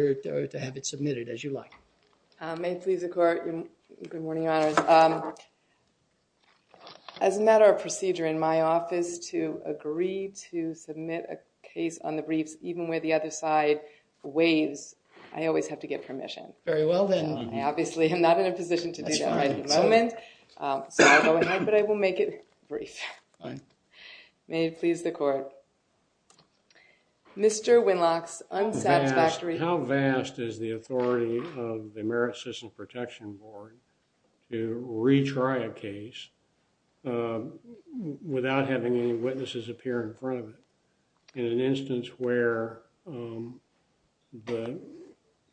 or to have it submitted as you like. May it please the court, good morning your honors. As a matter of procedure in my office to agree to submit a case on the briefs even where the other side waives, I always have to get permission. Very well then. I obviously am not in a position to do that at the moment, but I will make it brief. May it please the court. Mr. Winlock's unsatisfactory. How vast is the authority of the merit system protection board to retry a case without having any witnesses appear in front of it in an instance where the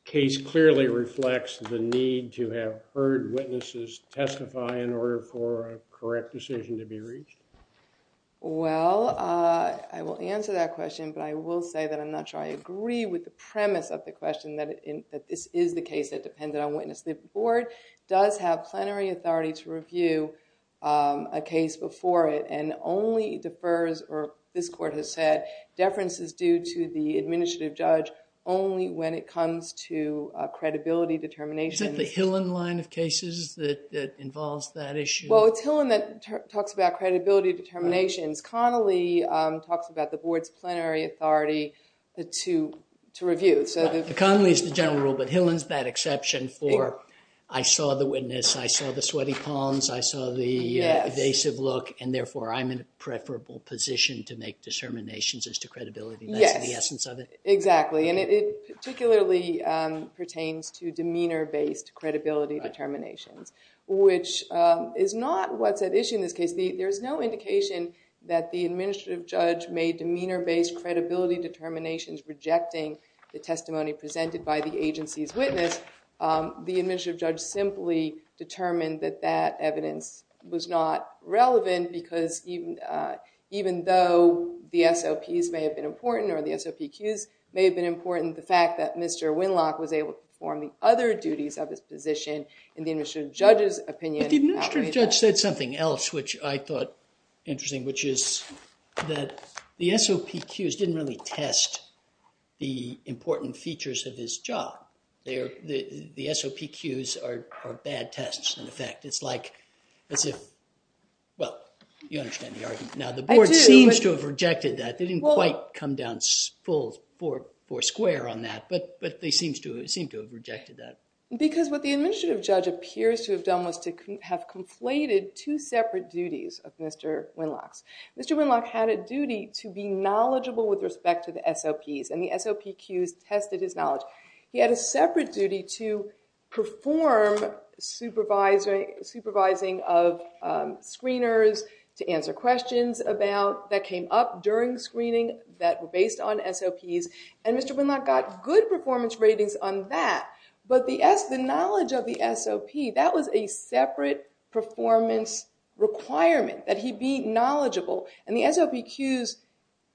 case clearly reflects the need to have heard witnesses testify in order for a correct decision to be reached? Well, I will answer that question, but I will say that I'm not sure I agree with the premise of the question that this is the case that depended on witness. The board does have plenary authority to review a case before it and only defers or this court has said deference is due to the administrative judge only when it comes to credibility determination. Is that the Hillen line of cases that involves that issue? Well, it's Hillen that talks about credibility determinations. Connolly talks about the board's plenary authority to review. Connolly is the general rule, but Hillen's that exception for I saw the witness, I saw the sweaty palms, I saw the evasive look, and therefore I'm in a preferable position to make determinations as to credibility. That's the essence of it. Exactly, and it particularly pertains to demeanor-based credibility determinations, which is not what's at issue in this case. There's no indication that the administrative judge made demeanor-based credibility determinations rejecting the testimony presented by the agency's witness. The administrative judge simply determined that that evidence was not relevant because even though the SOPs may have been important, or the SOPQs may have been important, the fact that Mr. Winlock was able to perform the other duties of his position in the administrative judge's opinion... But the administrative judge said something else which I thought interesting, which is that the SOPQs didn't really test the important features of his job. The SOPQs are bad tests in effect. It's like as if, well, you understand the argument now. The board seems to have rejected that. They didn't quite come down full four square on that, but they seem to have rejected that. Because what the administrative judge appears to have done was to have conflated two separate duties of Mr. Winlock's. Mr. Winlock had a duty to be knowledgeable with respect to the SOPs, and the SOPQs tested his knowledge. He had a separate duty to perform supervising of screeners to answer questions that came up during screening that were based on SOPs, and Mr. Winlock got good performance requirement that he be knowledgeable, and the SOPQs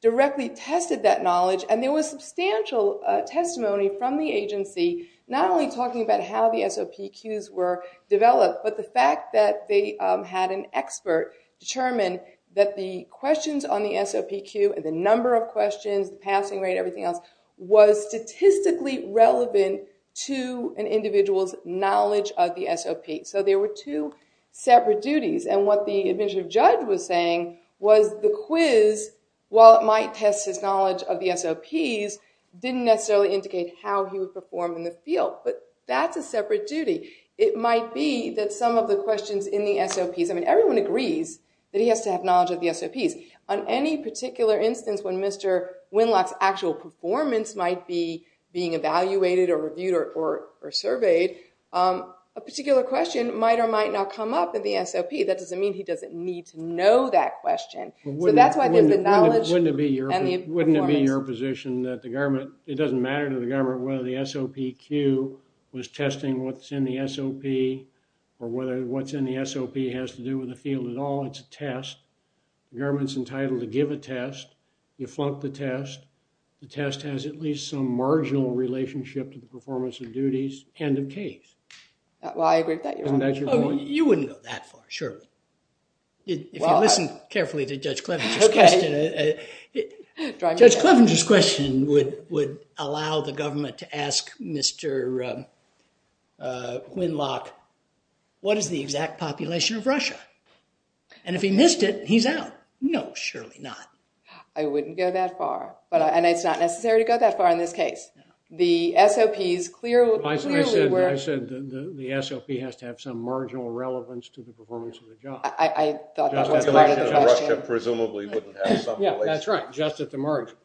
directly tested that knowledge, and there was substantial testimony from the agency, not only talking about how the SOPQs were developed, but the fact that they had an expert determine that the questions on the SOPQ and the number of questions, the passing rate, everything else was statistically relevant to an individual's knowledge of the SOP. So there were two separate duties, and what the administrative judge was saying was the quiz, while it might test his knowledge of the SOPs, didn't necessarily indicate how he would perform in the field, but that's a separate duty. It might be that some of the questions in the SOPs, I mean, everyone agrees that he has to have knowledge of the SOPs. On any particular instance when Mr. Winlock's actual performance might be being evaluated or reviewed or surveyed, a particular question might or might not come up in the SOP. That doesn't mean he doesn't need to know that question. So that's why there's the knowledge and the performance. Wouldn't it be your position that the government, it doesn't matter to the government whether the SOPQ was testing what's in the SOP, or whether what's in the SOP has to do with the field at all. It's a test. The government's entitled to give a test. You flunk the test. The test has at least some marginal relationship to the performance of duties and the case. Well, I agree with that. You wouldn't go that far, surely. If you listen carefully to Judge Clevenger's question, Judge Clevenger's question would allow the government to ask Mr. Winlock, what is the exact population of Russia? And if he missed it, he's out. No, surely not. I wouldn't go that far, and it's not necessary to go that far in this case. The SOPs clearly were... I said the SOP has to have some marginal relevance to the performance of the job. I thought that was part of the question. The population of Russia presumably wouldn't have some relation. Yeah, that's right. Just at the margin.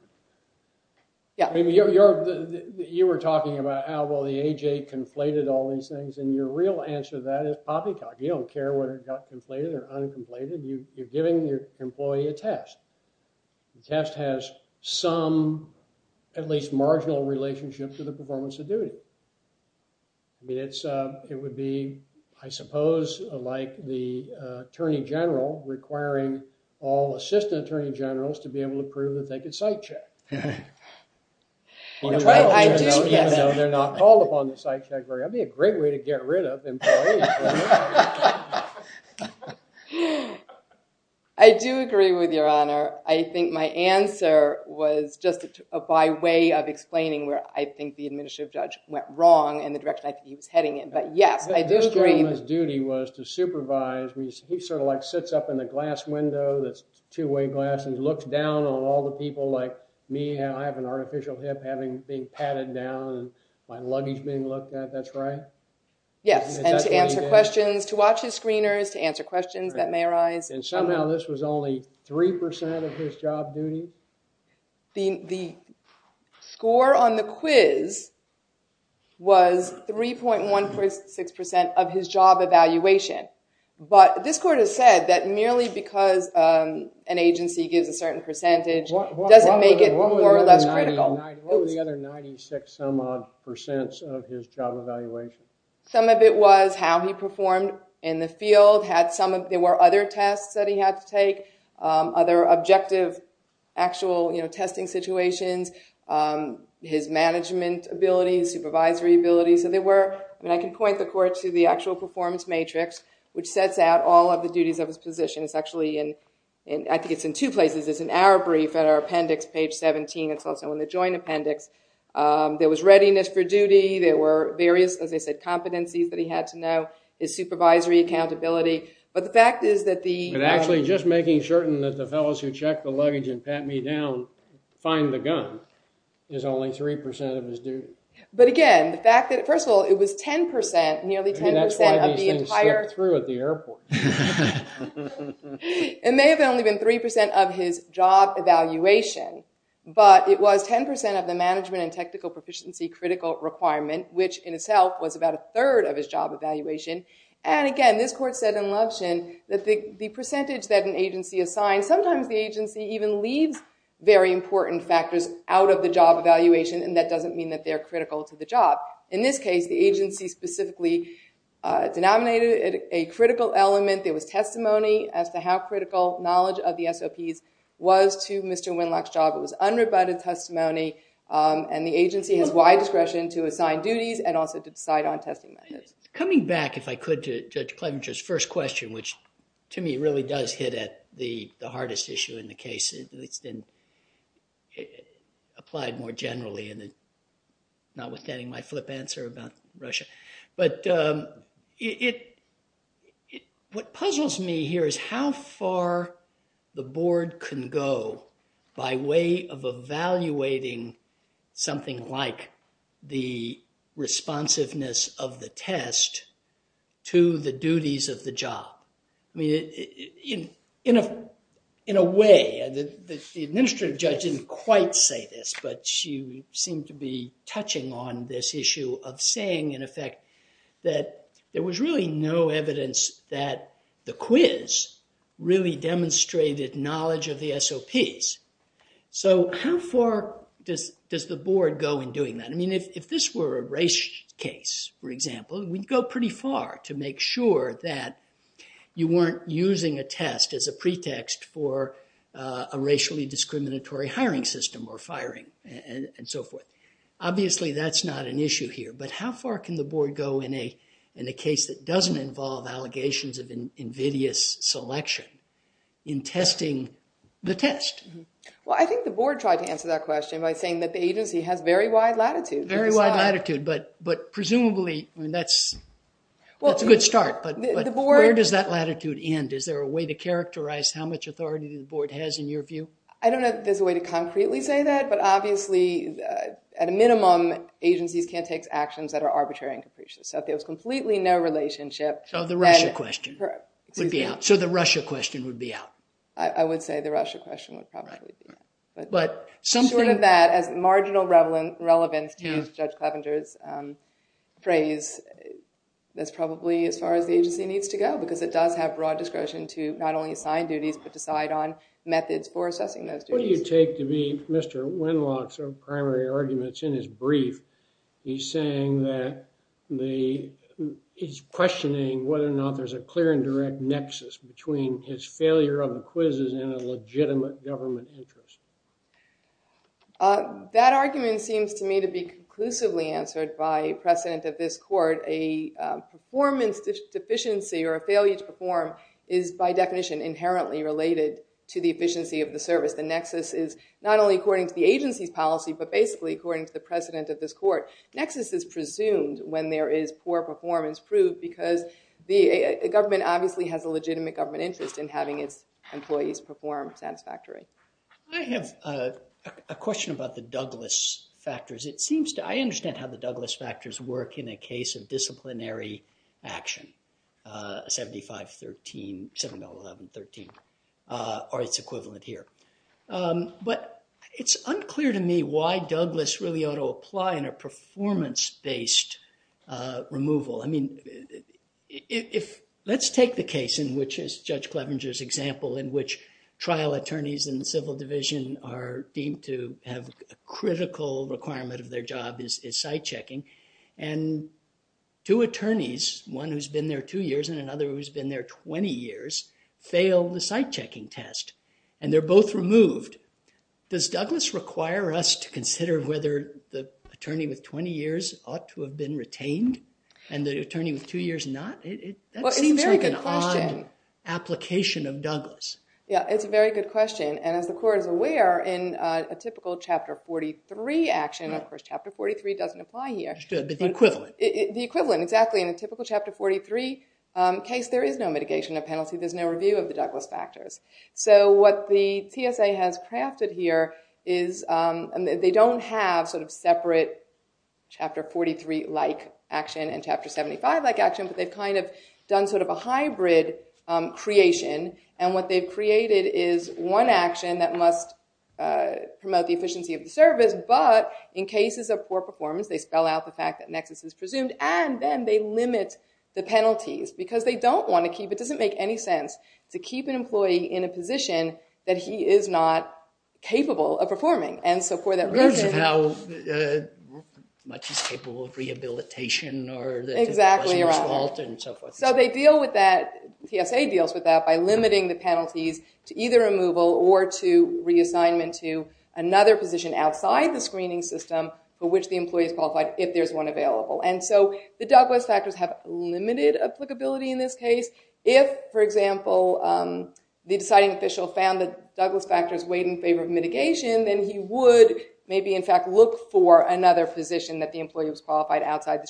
You were talking about how, well, the AJ conflated all these things, and your real answer to that is poppycock. You don't care whether it got conflated or uncomplated. You're giving your employee a test. The test has some, at least marginal, relationship to the performance of duty. I mean, it would be, I suppose, like the attorney general requiring all assistant attorney generals to be able to prove that they could cite check, even though they're not called upon to cite check. That would be a great way to get rid of employees. I do agree with your honor. I think my answer was just by way of explaining where I think the administrative judge went wrong, and the direction I think he was heading in. But yes, I do agree. This gentleman's duty was to supervise. He sort of like sits up in the glass window, that's two-way glass, and looks down on all the people like me. I have an artificial hip being patted down, and my luggage being looked at. That's right? Yes, and to answer questions, to watch his screeners, to answer questions that may arise. And somehow this was only three percent of his job duty? The score on the quiz was 3.146 percent of his job evaluation. But this court has said that merely because an agency gives a certain percentage doesn't make it more or less critical. What were the other 96 some odd percents of his job evaluation? Some of it was how he performed in the field. There were other tests that he had to take, other objective actual testing situations, his management abilities, supervisory abilities. I can point the court to the actual performance matrix, which sets out all of the duties of his position. It's actually in, I think it's in two places. It's in our brief at our appendix, page 17. It's also in the joint appendix. There was readiness for duty. There were various, as I said, competencies that he had to know, his supervisory accountability. But the fact is that the- And actually just making certain that the fellows who check the luggage and pat me down find the gun is only three percent of his duty. But again, the fact that, first of all, it was 10 percent, nearly 10 percent of the entire- It may have only been three percent of his job evaluation, but it was 10 percent of the management and technical proficiency critical requirement, which in itself was about a third of his job evaluation. And again, this court said in Lovshin that the percentage that an agency assigned, sometimes the agency even leaves very important factors out of the job evaluation, and that doesn't mean that they're critical to the job. In this case, the agency specifically denominated a critical element. There was testimony as to how critical knowledge of the SOPs was to Mr. Winlock's job. It was unrebutted testimony, and the agency has wide discretion to assign duties and also to decide on testing methods. Coming back, if I could, to Judge Klementer's first question, which to me really does hit at the hardest issue in the case. It's been applied more generally, and notwithstanding my flip answer about Russia, but what puzzles me here is how far the board can go by way of evaluating something like the responsiveness of the test to the duties of the job. I mean, in a way, the administrative judge didn't quite say this, but she seemed to be touching on this issue of saying, in effect, that there was really no evidence that the quiz really demonstrated knowledge of the SOPs. So how far does the board go in doing that? I mean, if this were a race case, for example, we'd go pretty far to make sure that you weren't using a test as a pretext for a racially discriminatory hiring system or firing and so forth. Obviously, that's not an issue here, but how far can the board go in a case that doesn't involve allegations of invidious selection in testing the test? Well, I think the board tried to answer that question by saying that the agency has very wide latitude. Very wide latitude, but presumably, I mean, that's a good start, but where does that latitude end? Is there a way to characterize how much authority the board has in your view? I don't know if there's a way to concretely say that, but obviously, at a minimum, agencies can't take actions that are arbitrary and capricious. So if there was completely no relationship... So the Russia question would be out. I would say the Russia question would probably be out. But short of that, as marginal relevance to Judge Clevenger's phrase, that's probably as far as the agency needs to go because it does have broad discretion to not only assign duties, but decide on methods for assessing those duties. What do you take to be Mr. Winlock's primary arguments in his brief? He's saying that he's questioning whether or not there's a clear and direct nexus between his failure of the quizzes and a legitimate government interest. That argument seems to me to be conclusively answered by precedent of this is by definition inherently related to the efficiency of the service. The nexus is not only according to the agency's policy, but basically according to the precedent of this court. Nexus is presumed when there is poor performance proved because the government obviously has a legitimate government interest in having its employees perform satisfactory. I have a question about the Douglas factors. I understand how the Douglas factors work in a case of disciplinary action, 75-11-13, or its equivalent here. But it's unclear to me why Douglas really ought to apply in a performance-based removal. Let's take the case in which, as Judge Clevenger's example, in which trial attorneys in the civil division are deemed to have a critical requirement of their job is site checking. And two attorneys, one who's been there two years and another who's been there 20 years, fail the site checking test. And they're both removed. Does Douglas require us to consider whether the attorney with 20 years ought to have been retained and the attorney with two years not? That seems like an odd application of Douglas. Yeah, it's a very good question. And as the court is aware, in a typical chapter 43 action, of course, chapter 43 doesn't apply here. But the equivalent. The equivalent, exactly. In a typical chapter 43 case, there is no mitigation of penalty. There's no review of the Douglas factors. So what the TSA has crafted here is they don't have sort of separate chapter 43-like action and chapter 75-like action. But they've kind of done sort of a hybrid creation. And what they've created is one action that must promote the efficiency of the service. But in cases of poor performance, they spell out the fact that nexus is presumed. And then they limit the penalties. Because they don't want to keep, it doesn't make any sense to keep an employee in a position that he is not capable of rehabilitation or that it wasn't his fault and so forth. So they deal with that, TSA deals with that by limiting the penalties to either removal or to reassignment to another position outside the screening system for which the employee is qualified if there's one available. And so the Douglas factors have limited applicability in this case. If, for example, the deciding official found that Douglas factors weighed in favor of mitigation, then he would in fact look for another position that the employee was qualified outside the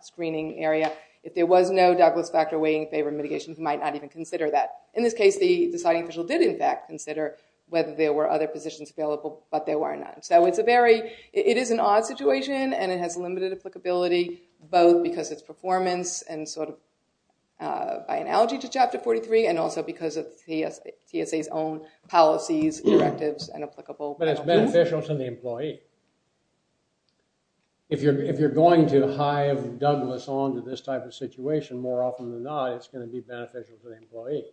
screening area. If there was no Douglas factor weighing in favor of mitigation, he might not even consider that. In this case, the deciding official did in fact consider whether there were other positions available, but there were none. So it's a very, it is an odd situation and it has limited applicability both because it's performance and sort of by analogy to chapter 43 and also because of the employee. If you're going to hive Douglas on to this type of situation, more often than not, it's going to be beneficial for the employee.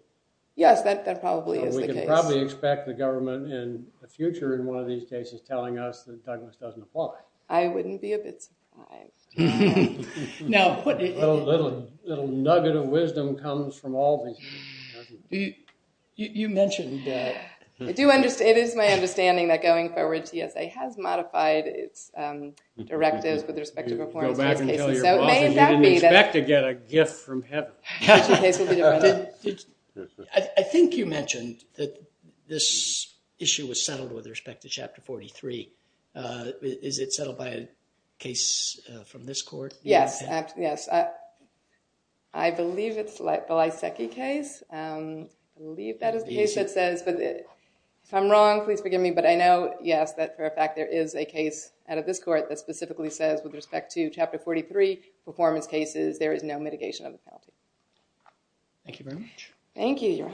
Yes, that probably is the case. We can probably expect the government in the future in one of these cases telling us that Douglas doesn't apply. I wouldn't be a bit surprised. A little nugget of wisdom comes from all these. You, you mentioned that. I do understand, it is my understanding that going forward, TSA has modified its directives with respect to performance. I think you mentioned that this issue was settled with respect to chapter 43. Is it settled by a case from this court? Yes, yes. I believe it's like the Lysakki case. I believe that is the case that says, but if I'm wrong, please forgive me, but I know, yes, that for a fact there is a case out of this court that specifically says with respect to chapter 43 performance cases, there is no mitigation of the penalty. Thank you very much. Thank you. All right.